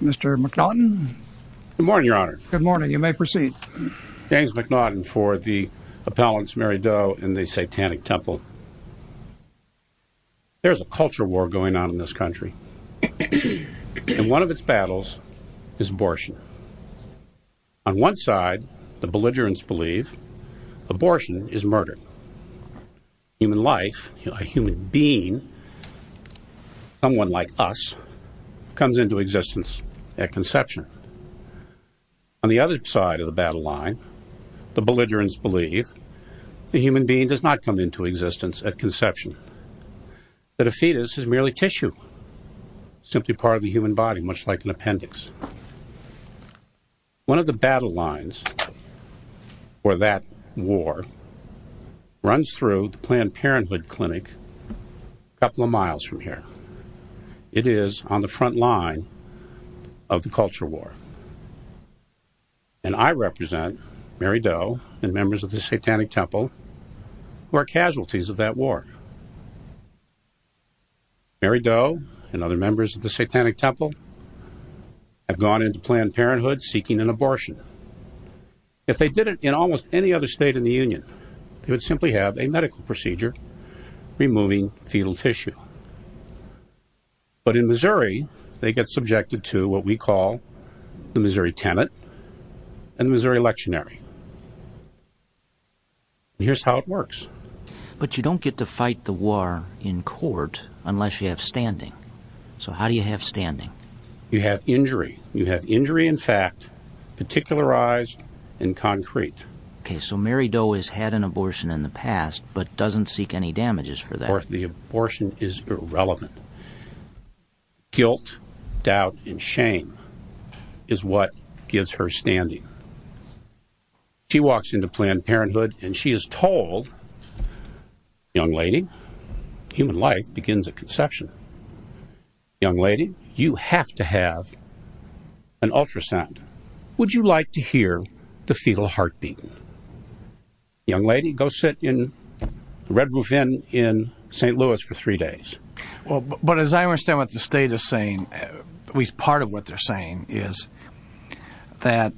There is a culture war going on in this country, and one of its battles is abortion. On one someone like us comes into existence at conception. On the other side of the battle line, the belligerents believe the human being does not come into existence at conception, that a fetus is merely tissue, simply part of the human body, much like an appendix. One of the battle lines for that war runs through the Planned Parenthood Clinic a couple of miles from here. It is on the front line of the culture war. And I represent Mary Doe and members of the Satanic Temple have gone into Planned Parenthood seeking an abortion. If they did it in almost any other state in the Union, they would simply have a medical procedure removing fetal tissue. But in Missouri, they get subjected to what we call the Missouri Tenet and Missouri Lectionary. Here's how it works. But you don't get to fight the war in court unless you have standing. So how do you have standing? You have injury. You have injury in fact, particularized and concrete. Okay, so Mary Doe has had an abortion in the past but doesn't seek any damages for that. Of course, the abortion is irrelevant. Guilt, doubt, and shame is what gives her standing. She walks into Planned Parenthood and she is told, young lady, human life begins at conception. Young lady, you have to have an ultrasound. Would you like to hear the fetal heartbeat? Young lady, go sit in the Red Roof Inn in St. Louis for three days. Well, but as I understand what the state is saying, at least part of what they're saying is that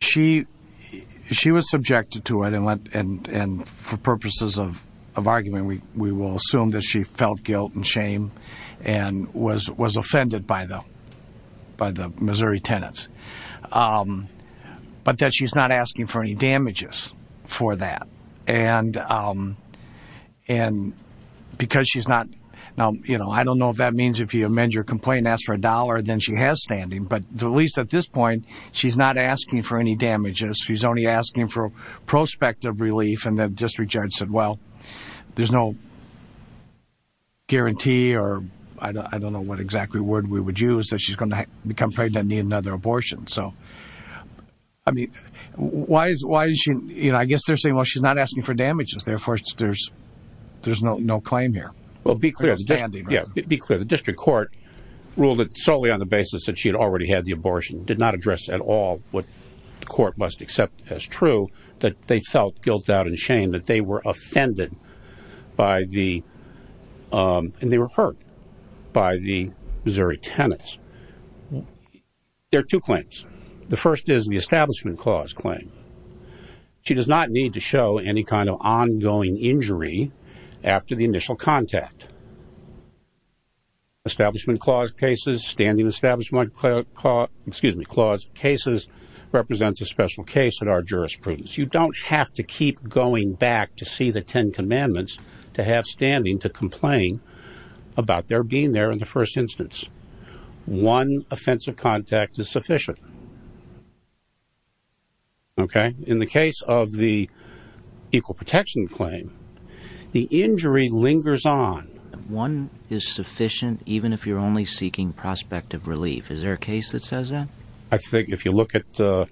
she was subjected to it and for purposes of argument, we will assume that she felt guilt and shame and was offended by the Missouri Tenets. But that she's not asking for any damages for that. And because she's not, now, you know, I don't know if that means if you amend your complaint, ask for a dollar, then she has standing. But at least at this point, she's not asking for any damages. She's only asking for prospective relief and the district judge said, well, there's no guarantee or I don't know what exactly word we would use that she's going to become pregnant and need another abortion. So, I mean, why is she, you know, I guess they're saying, well, she's not asking for damages. Therefore, there's no claim here. Well, be clear. Yeah, be clear. The district court ruled that solely on the basis that she had already had the abortion, did not address at all what the court must accept as true, that they felt guilt out and shame that they were offended by the, and they were hurt by the Missouri Tenets. There are two claims. The first is the Establishment Clause claim. She does not need to show any kind of ongoing injury after the initial contact. Establishment Clause cases, Standing Establishment Clause, excuse me, Clause cases represents a special case in our jurisprudence. You don't have to keep going back to see the Ten Commandments to have standing to complain about their being there in the first instance. One offensive contact is sufficient. Okay. In the case of the Equal Protection claim, the injury lingers on. One is sufficient, even if you're only seeking prospective relief. Is there a case that says that? I think if you look at the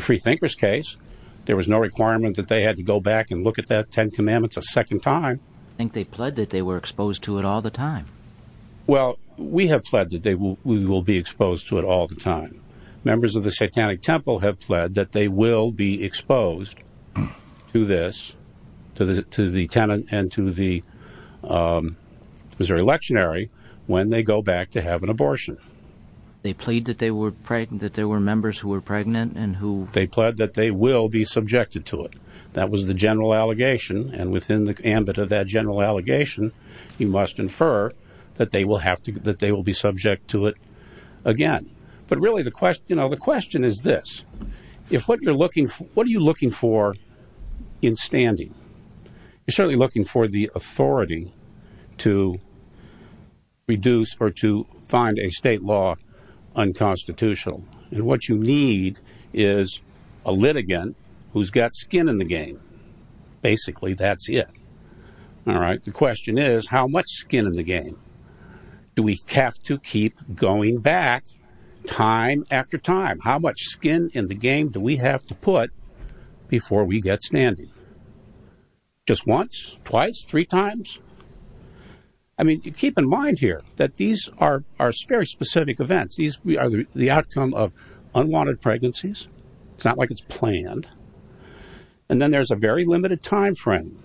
Freethinkers case, there was no requirement that they had to go back and look at that Ten Commandments a second time. I think they pled that they were exposed to it all the time. Well, we have pled that they will, we will be exposed to it all the time. Members of the Satanic Temple have pled that they will be exposed to this, to the Tenet and to the Missouri Lectionary when they go back to have an abortion. They pled that they were pregnant, that there were members who were pregnant and who... They pled that they will be subjected to it. That was the general allegation, and within the ambit of that general allegation, you must infer that they will have to, that they will be subject to it again. But really the question, you know, the question is this. If what you're looking for, what are you looking for in standing? You're certainly looking for the authority to reduce or to find a state law unconstitutional, and what you need is a litigant who's got skin in the game. Basically, that's it. All right, the question is, how much skin in the game do we have to keep going back time after time? How much skin in the game do we have to put before we get standing? Just once, twice, three times? I mean, keep in mind here that these are very specific events. These are the outcome of unwanted pregnancies. It's not like it's planned. And then there's a very limited time frame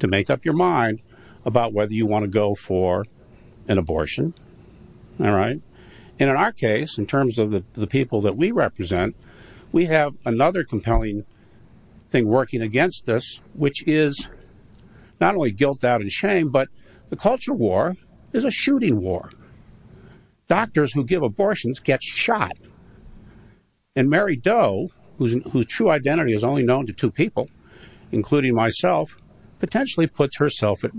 to make up your mind about whether you want to go for an abortion, all right? And in our case, in terms of the people that we represent, we have another compelling thing working against us, which is not only guilt, doubt, and shame, but the culture war is a shooting war. Doctors who give abortions get shot, and Mary Doe, whose true identity is only known to two people, including myself, potentially puts herself at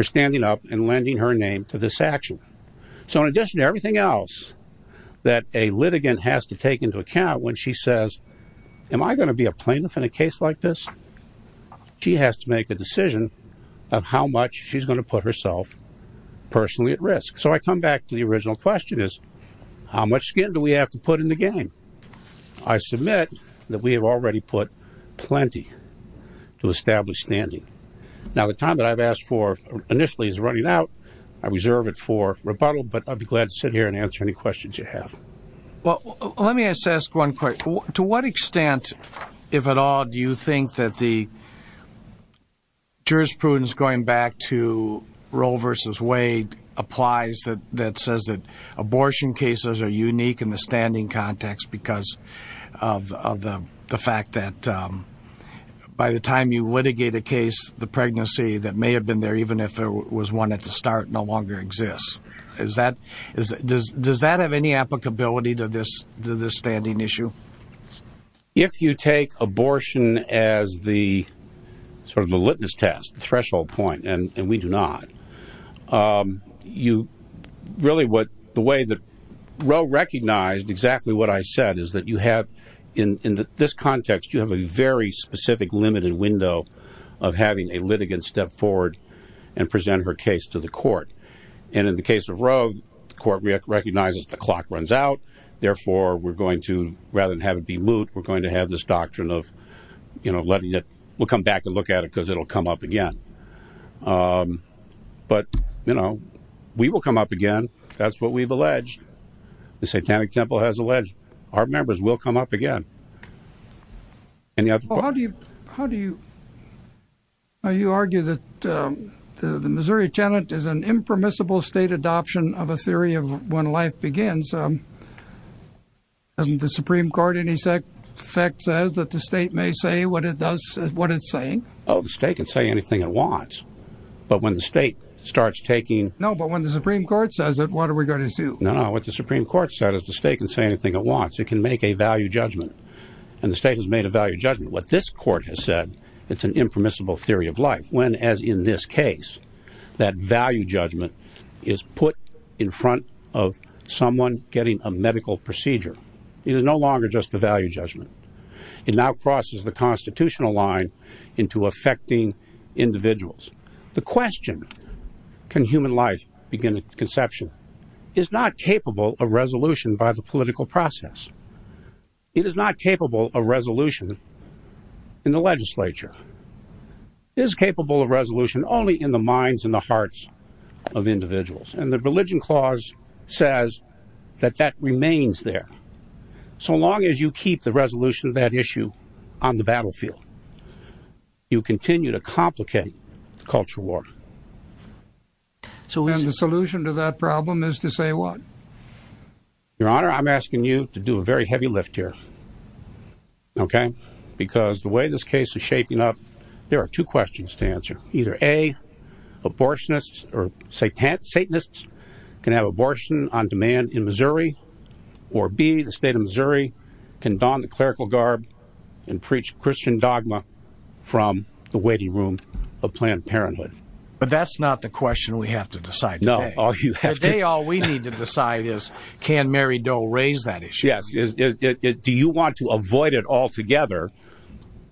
her name to this action. So in addition to everything else that a litigant has to take into account when she says, am I going to be a plaintiff in a case like this? She has to make a decision of how much she's going to put herself personally at risk. So I come back to the original question is, how much skin do we have to put in the game? I submit that we have already put plenty to establish standing. Now, the time that I've asked for initially is running out. I reserve it for rebuttal, but I'd be glad to sit here and answer any questions you have. Well, let me ask one question. To what extent, if at all, do you think that the jurisprudence going back to Roe versus Wade applies that says that abortion cases are unique in the standing context because of the fact that by the time you litigate a case, the pregnancy that may have been there, even if there was one at the start, no longer exists? Does that have any applicability to this standing issue? If you take abortion as the litmus test, threshold point, and we do not, you really what the way that Roe recognized exactly what I said is that you have in this context, you have a very specific limited window of having a litigant step forward and present her case to the court. And in the case of Roe, the court recognizes the clock runs out. Therefore, we're going to rather than have it be moot, we're going to have this doctrine of, you know, letting it, we'll come back and look at it because it'll come up again. But, you know, we will come up again. That's what we've alleged. The satanic temple has alleged our members will come up again. And yet, how do you, how do you, you argue that the Missouri tenant is an impermissible state adoption of a theory of when life begins. Um, and the Supreme court, any sec fact says that the state may say what it does, what it's saying. Oh, the state can say anything it wants, but when the state starts taking, no, but when the Supreme court says that, what are we going to do? No, no. What the Supreme court said is the state can say anything it wants. It can make a value judgment. And the state has made a value judgment. What this court has said, it's an impermissible theory of life. When, as in this case, that value judgment is put in front of someone getting a medical procedure, it is no longer just a value judgment. It now crosses the constitutional line into affecting individuals. The question can human life begin conception is not capable of resolution by the political process. It is not capable of resolution in the legislature is capable of resolution only in the minds and the hearts of individuals. And the religion clause says that that remains there. So long as you keep the resolution of that issue on the battlefield, you continue to complicate the culture war. So the solution to that problem is to say what your honor, I'm asking you to do a very heavy lift here. Okay. Because the way this case is shaping up, there are two questions to answer either a abortionists or Satanists can have abortion on demand in Missouri or be the state of Missouri can don the clerical garb and preach Christian dogma from the waiting room of Planned Parenthood. But that's not the question we have to decide. No. All we need to decide is can Mary raise that issue? Yes. Do you want to avoid it altogether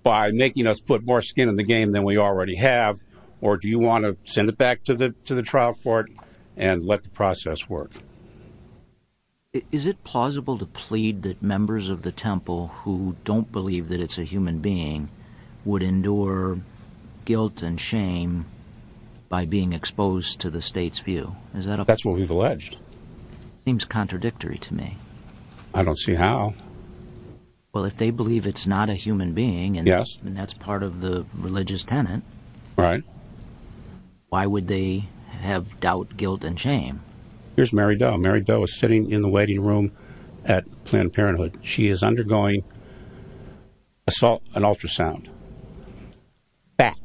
by making us put more skin in the game than we already have? Or do you want to send it back to the to the trial court and let the process work? Is it plausible to plead that members of the temple who don't believe that it's a human being would endure guilt and shame by being exposed to the state's view? Is that that's what we've I don't see how. Well, if they believe it's not a human being, and yes, and that's part of the religious tenant, right? Why would they have doubt, guilt and shame? Here's Mary Doe. Mary Doe is sitting in the waiting room at Planned Parenthood. She is undergoing assault, an ultrasound back.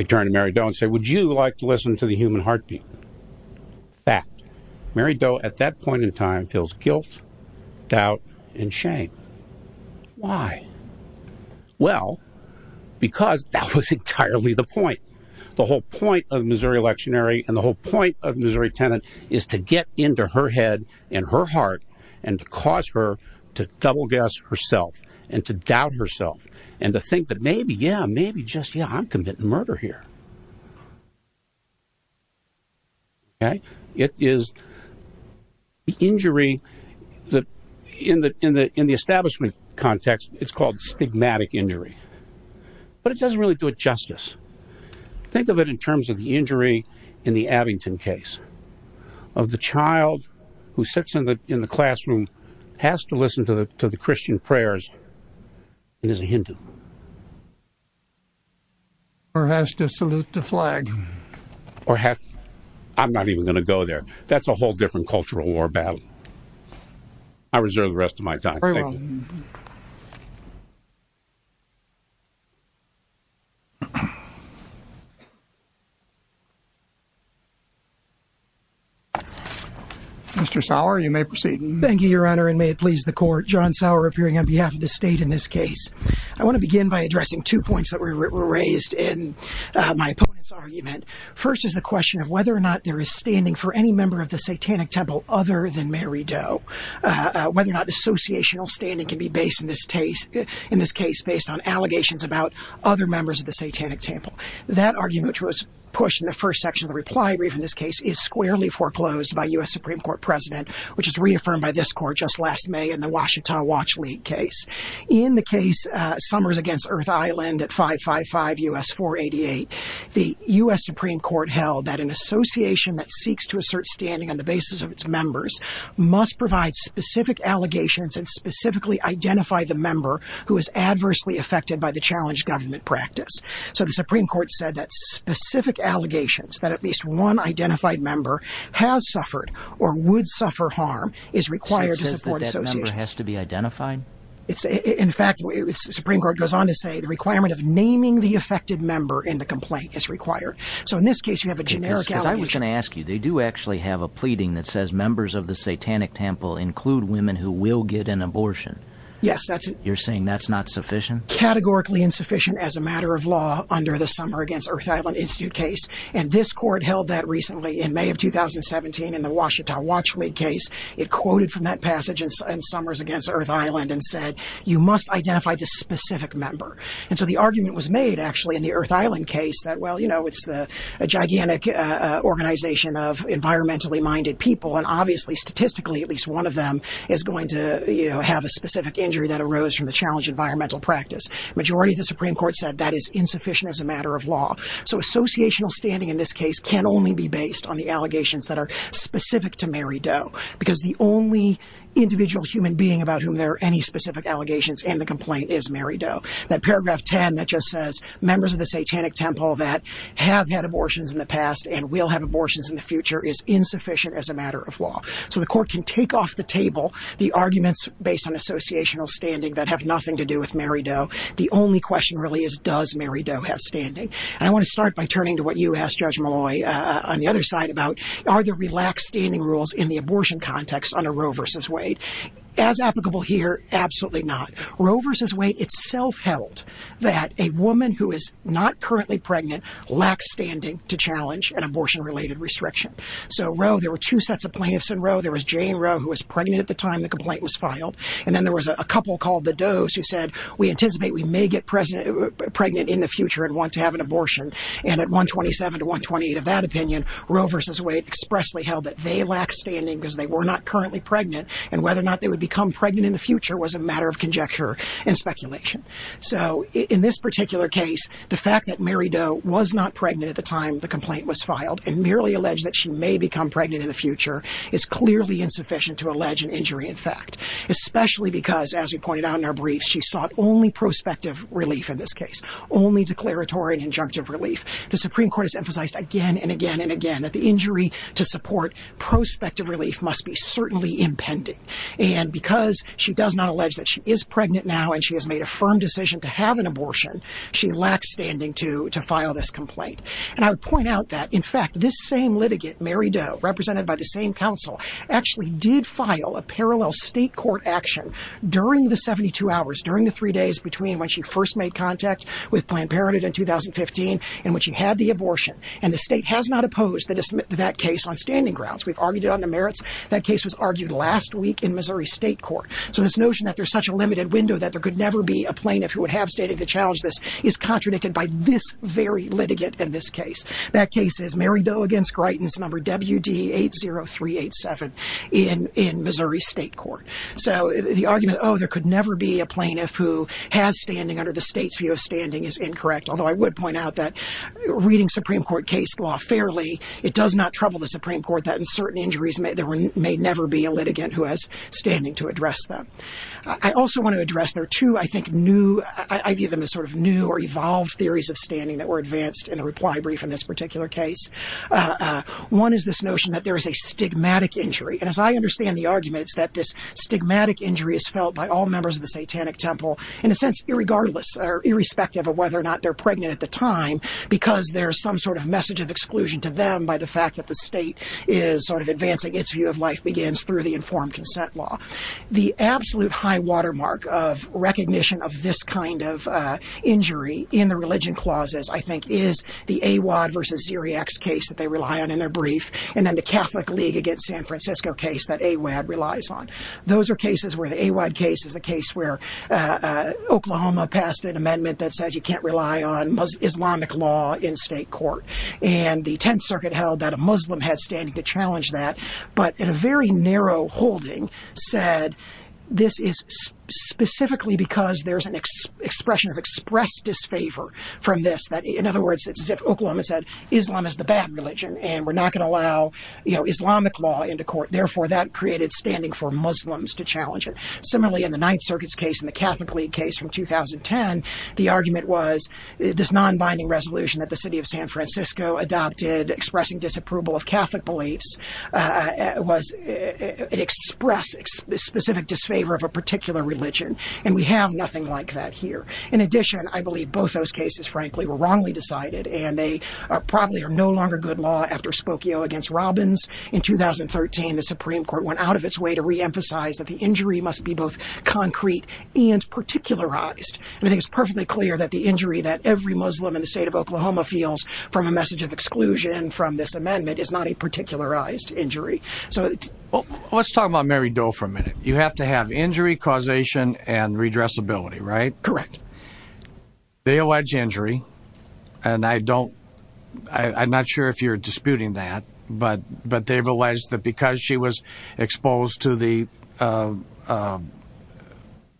I turned to Mary Doe and say, would you like to listen to the human heartbeat? That Mary Doe at that point in time feels guilt, doubt and shame. Why? Well, because that was entirely the point. The whole point of Missouri electionary and the whole point of Missouri tenant is to get into her head and her heart and cause her to double guess herself and to doubt herself and to think that maybe, yeah, maybe just yeah, I'm committing murder here. It is injury that in the in the in the establishment context, it's called stigmatic injury, but it doesn't really do it justice. Think of it in terms of the injury in the Abington case of the child who sits in the in the classroom, has to listen to the to the Christian prayers and is a Hindu. Or has to salute the flag or have. I'm not even going to go there. That's a whole different cultural war battle. I reserve the rest of my time. Mr. Sauer, you may proceed. Thank you, Your Honor. And may it please the court, John Sauer appearing on behalf of the state in this case. I want to begin by addressing two points that were raised in my opponent's argument. First is the question of whether or not there is standing for any member of the satanic temple other than Mary Doe, whether or not associational standing can be based in this case in this case based on allegations about other members of the satanic temple. That argument was pushed in the first section of the reply brief in this case is squarely foreclosed by U.S. Supreme Court president, which is reaffirmed by this court just last May in the Ouachita Watch League case. In the case summers against Earth Island at 555 U.S. 488, the U.S. Supreme Court held that an association that seeks to assert standing on the basis of its members must provide specific allegations and specifically identify the member who is adversely affected by the challenge government practice. So the Supreme Court said that specific allegations that at least one identified member has suffered or would suffer harm is required to support association has to be identified. It's in fact, the Supreme Court goes on to say the requirement of naming the affected member in the complaint is required. So in this case, you have a generic. I was going to ask you, they do actually have a pleading that says members of the satanic temple include women who will get an abortion. Yes, that's you're saying that's not sufficient, categorically insufficient as a matter of law under the summer against Earth Island Institute case. And this court held that recently in May of 2017 in the Ouachita Watch case, it quoted from that passage and summers against Earth Island and said you must identify this specific member. And so the argument was made actually in the Earth Island case that, well, you know, it's a gigantic organization of environmentally minded people. And obviously, statistically, at least one of them is going to have a specific injury that arose from the challenge environmental practice. Majority of the Supreme Court said that is insufficient as a matter of law. So associational standing in this case can only be based on the allegations that are because the only individual human being about whom there are any specific allegations in the complaint is Mary Doe. That paragraph 10 that just says members of the satanic temple that have had abortions in the past and will have abortions in the future is insufficient as a matter of law. So the court can take off the table the arguments based on associational standing that have nothing to do with Mary Doe. The only question really is, does Mary Doe have standing? And I want to start by turning to what you asked Judge Malloy on the other side about are there relaxed standing rules in the abortion context under Roe versus Wade? As applicable here, absolutely not. Roe versus Wade itself held that a woman who is not currently pregnant lacks standing to challenge an abortion related restriction. So Roe, there were two sets of plaintiffs in Roe. There was Jane Roe, who was pregnant at the time the complaint was filed. And then there was a couple called the Doe's who said, we anticipate we may get pregnant in the that they lack standing because they were not currently pregnant and whether or not they would become pregnant in the future was a matter of conjecture and speculation. So in this particular case, the fact that Mary Doe was not pregnant at the time the complaint was filed and merely alleged that she may become pregnant in the future is clearly insufficient to allege an injury. In fact, especially because as we pointed out in our briefs, she sought only prospective relief in this case, only declaratory and injunctive relief. The Supreme Court has emphasized again and again that the injury to support prospective relief must be certainly impending. And because she does not allege that she is pregnant now and she has made a firm decision to have an abortion, she lacks standing to file this complaint. And I would point out that in fact, this same litigant, Mary Doe, represented by the same council actually did file a parallel state court action during the 72 hours, during the three days between when she first made contact with Planned Parenthood in 2015 in which she had the abortion. And the state has not opposed that case on standing grounds. We've argued it on the merits. That case was argued last week in Missouri State Court. So this notion that there's such a limited window that there could never be a plaintiff who would have standing to challenge this is contradicted by this very litigant in this case. That case is Mary Doe against Gritens number WD80387 in Missouri State Court. So the argument, oh, there could never be a plaintiff who has standing under the state's view of standing is incorrect. Although I would point out that reading Supreme Court case law fairly, it does not trouble the Supreme Court that in certain injuries, there may never be a litigant who has standing to address them. I also want to address there are two, I think, new, I view them as sort of new or evolved theories of standing that were advanced in the reply brief in this particular case. One is this notion that there is a stigmatic injury. And as I understand the arguments that this stigmatic injury is felt by all members of the satanic temple, in a sense, irregardless or irrespective of whether or not they're pregnant at the time, because there's some sort of message of exclusion to them by the fact that the state is sort of advancing its view of life begins through the informed consent law. The absolute high watermark of recognition of this kind of injury in the religion clauses, I think, is the AWAD versus Zeriak's case that they rely on in their brief. And then the Catholic League against San Francisco case that AWAD relies on. Those are cases where the AWAD case is the case where Oklahoma passed an amendment that says you can't rely on Islamic law in state court. And the 10th Circuit held that a Muslim had standing to challenge that, but in a very narrow holding said, this is specifically because there's an expression of expressed disfavor from this. In other words, Oklahoma said, Islam is the bad religion, and we're not going to allow, you know, Islamic law into court. Therefore, that created standing for Muslims to challenge it. Similarly, in the Ninth Circuit's case, in the Catholic League case from 2010, the argument was this non-binding resolution that the city of San Francisco adopted expressing disapproval of Catholic beliefs was an express specific disfavor of a particular religion. And we have nothing like that here. In addition, I believe both those cases, frankly, were wrongly decided, and they probably are no longer good law after Spokio against Robbins. In 2013, the Supreme Court went out of its way to reemphasize that the injury must be both concrete and particularized. And I think it's perfectly clear that the injury that every Muslim in the state of Oklahoma feels from a message of exclusion from this amendment is not a particularized injury. Let's talk about Mary Doe for a minute. You have to have injury, causation, and redressability, right? Correct. They allege injury, and I don't, I'm not sure if you're disputing that, but they've alleged that because she was exposed to the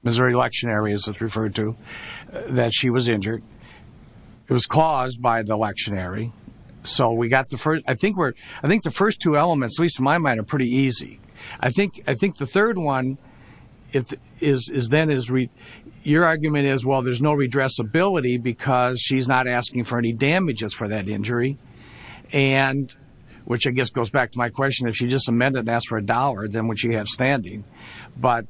Missouri electionary, as it's referred to, that she was injured. It was caused by the electionary. So we got the first, I think we're, I think the first two elements, at least in my mind, are pretty easy. I think the third one is then, your argument is, well, there's no redressability because she's not asking for any damages for that injury. And, which I guess goes back to my question, if she just amended and asked for a dollar, then would she have standing? But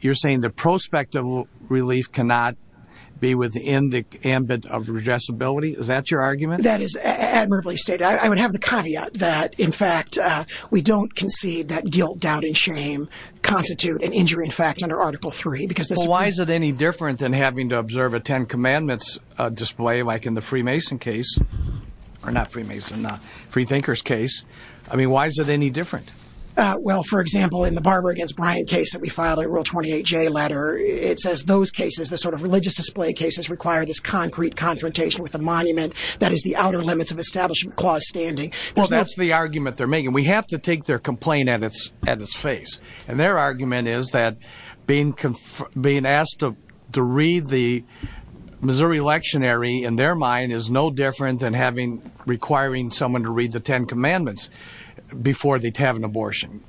you're saying the prospect of relief cannot be within the ambit of redressability? Is that your argument? That is admirably stated. I would have the caveat that, in fact, we don't concede that guilt, doubt, and shame constitute an injury, in fact, under Article 3. But why is it any different than having to observe a Ten Commandments display, like in the Freemason case, or not Freemason, Freethinkers case? I mean, why is it any different? Well, for example, in the Barber against Bryant case that we filed, a Rule 28J letter, it says those cases, the sort of religious display cases, require this concrete confrontation with a monument that is the outer limits of establishment clause standing. Well, that's the argument they're making. We have to take their complaint at its face. And their argument is that being asked to read the Missouri Lectionary, in their mind, is no different than requiring someone to read the Ten Commandments before they have an abortion.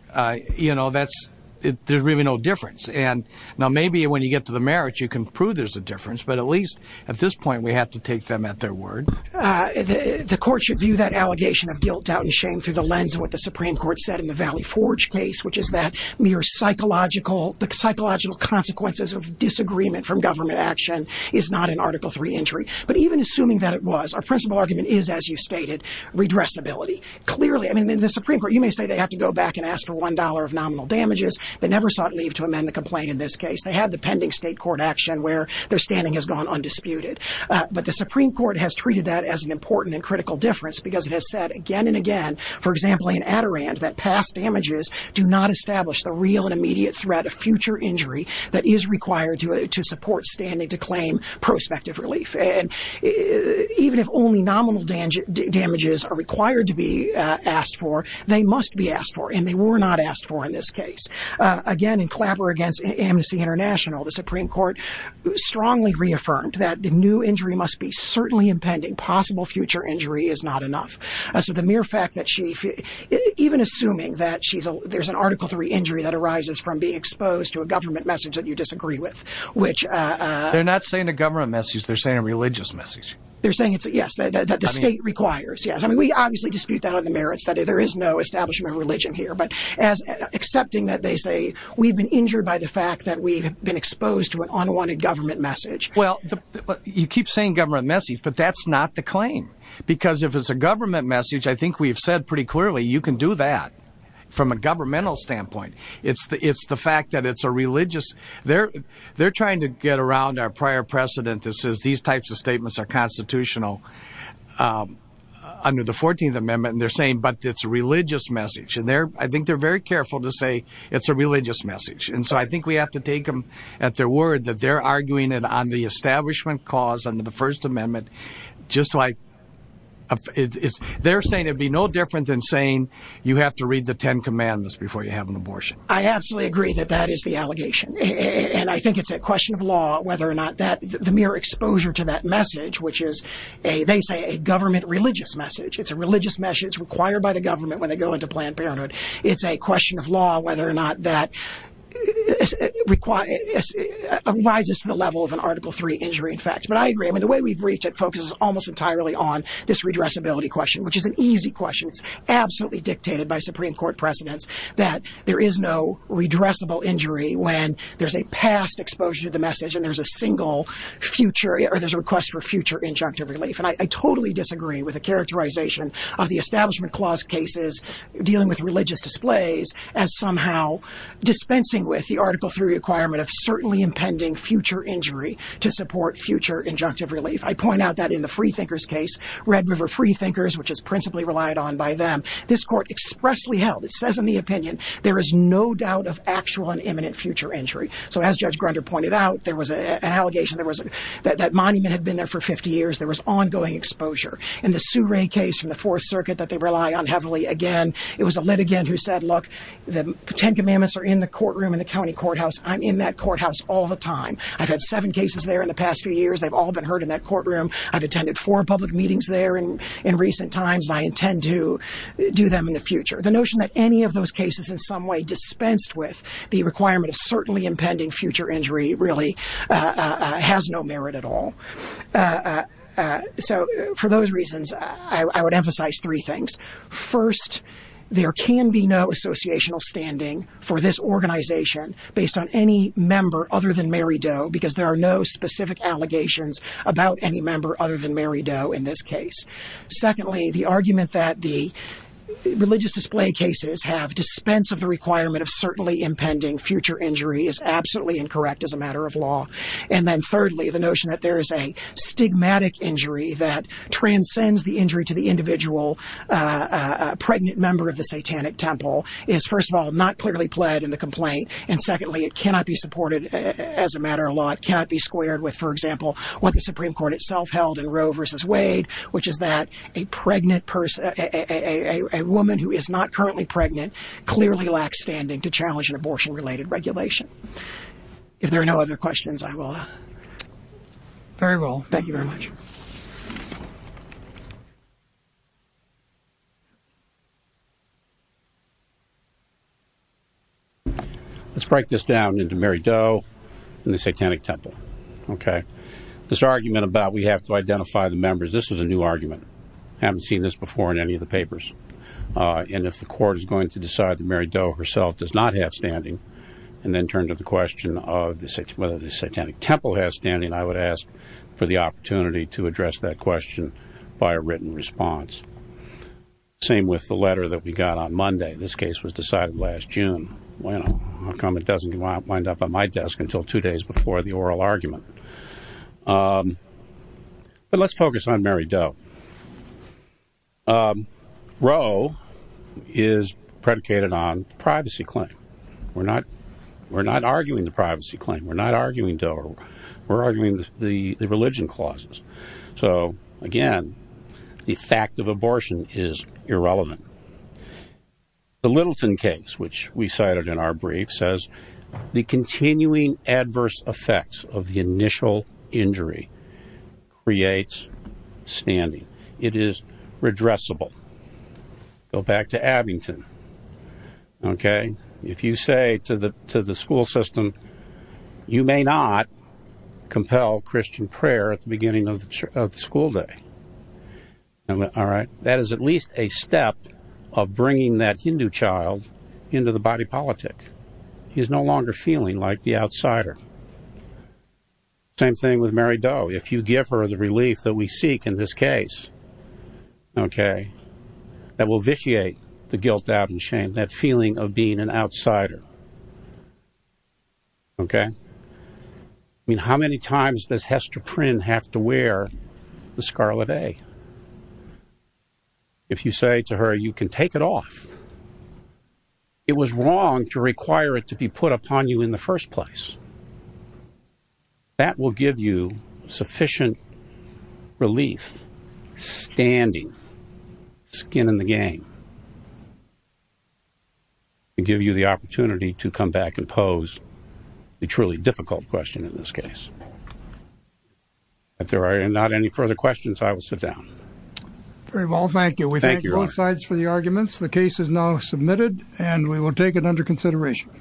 You know, there's really no difference. And now, maybe when you get to the merits, you can prove there's a difference. But at least, at this point, we have to take them at their word. The Court should view that allegation of guilt, doubt, and shame through the lens of what the Supreme Court said in the Valley Forge case, which is that mere psychological, the psychological consequences of disagreement from government action is not in Article 3 injury. But even assuming that it was, our principal argument is, as you stated, redressability. Clearly, I mean, in the Supreme Court, you may say they have to go back and ask for $1 of nominal damages. They never sought leave to amend the complaint in this case. They had the pending state court action where their standing has gone undisputed. But the Supreme Court has treated that as an important and critical difference because it has said again and again, for example, in Adirondack, that past damages do not establish the real and immediate threat of future injury that is required to support standing to claim prospective relief. And even if only nominal damages are required to be asked for, they must be asked for. And they were not asked for in this Supreme Court, strongly reaffirmed that the new injury must be certainly impending. Possible future injury is not enough. So the mere fact that she, even assuming that she's, there's an Article 3 injury that arises from being exposed to a government message that you disagree with, which... They're not saying a government message. They're saying a religious message. They're saying it's, yes, that the state requires. Yes. I mean, we obviously dispute that on the merits that there is no establishment of religion here, but as accepting that they say we've been exposed to an unwanted government message. Well, you keep saying government message, but that's not the claim. Because if it's a government message, I think we've said pretty clearly, you can do that from a governmental standpoint. It's the fact that it's a religious, they're trying to get around our prior precedent that says these types of statements are constitutional under the 14th Amendment. And they're saying, but it's a religious message. And they're, I think they're very careful to say it's a religious message. And so I think we have to take them at their word that they're arguing it on the establishment cause under the First Amendment, just like... They're saying it'd be no different than saying you have to read the Ten Commandments before you have an abortion. I absolutely agree that that is the allegation. And I think it's a question of law, whether or not that, the mere exposure to that message, which is a, they say a government religious message. It's a religious message required by the government when they go into Planned Parenthood. It's a question of law, whether or not that arises to the level of an Article III injury, in fact. But I agree. I mean, the way we've briefed it focuses almost entirely on this redressability question, which is an easy question. It's absolutely dictated by Supreme Court precedents that there is no redressable injury when there's a past exposure to the message and there's a single future, or there's a request for future injunctive relief. And I totally disagree with the characterization of the Establishment Clause cases dealing with religious displays as somehow dispensing with the Article III requirement of certainly impending future injury to support future injunctive relief. I point out that in the Freethinkers case, Red River Freethinkers, which is principally relied on by them, this court expressly held, it says in the opinion, there is no doubt of actual and imminent future injury. So as Judge Grunder pointed out, there was an allegation that that monument had been there for 50 years. There was ongoing exposure. In the Souray case from the Fourth Circuit that they rely on heavily, again, it was a litigant who said, look, the Ten Commandments are in the courtroom in the county courthouse. I'm in that courthouse all the time. I've had seven cases there in the past few years. They've all been heard in that courtroom. I've attended four public meetings there in recent times. I intend to do them in the future. The notion that any of those cases in some way dispensed with the requirement of certainly impending future injury really has no merit at all. So for those reasons, I would emphasize three things. First, there can be no associational standing for this organization based on any member other than Mary Doe because there are no specific allegations about any member other than Mary Doe in this case. Secondly, the argument that the religious display cases have dispense of the requirement of certainly impending future injury is absolutely incorrect as a matter of law. And then thirdly, the notion that there is a stigmatic injury that transcends the injury to the individual pregnant member of the satanic temple is, first of all, not clearly pled in the complaint. And secondly, it cannot be supported as a matter of law. It cannot be squared with, for example, what the Supreme Court itself held in Roe versus Wade, which is that a pregnant a woman who is not currently pregnant clearly lacks standing to challenge an abortion-related regulation. If there are no other questions, I will. Very well. Thank you very much. Let's break this down into Mary Doe and the satanic temple. Okay. This argument about we have to identify the members. This is a new argument. I haven't seen this before in any of the papers. And if the court is going to decide that Mary Doe herself does not have standing and then turn to the question of whether the satanic temple has standing, I would ask for the opportunity to address that question by a written response. Same with the letter that we got on Monday. This case was decided last June. Well, how come it doesn't wind up on my desk until two days before the oral argument? But let's focus on Mary Doe. Roe is predicated on privacy claim. We're not arguing the privacy claim. We're not arguing Doe. We're arguing the religion clauses. So again, the fact of abortion is irrelevant. The Littleton case, which we cited in our brief, says, The continuing adverse effects of the initial injury creates standing. It is redressable. Go back to Abington. Okay. If you say to the school system, you may not compel Christian prayer at the beginning of the school day. All right. That is at least a step of bringing that Hindu child into the body politic. He is no longer feeling like the outsider. Same thing with Mary Doe. If you give her the relief that we seek in this case, okay, that will vitiate the guilt, doubt, and shame, that feeling of being an outsider. Okay. I mean, how many times does Hester Prynne have to wear the scarlet A? If you say to her, you can take it off. It was wrong to require it to be put upon you in the first place. That will give you sufficient relief, standing, skin in the game, and give you the opportunity to come back and pose the truly difficult question in this case. If there are not any further questions, I will sit down. Very well. Thank you. We thank both sides for the arguments. The case is now submitted and we will take it under consideration.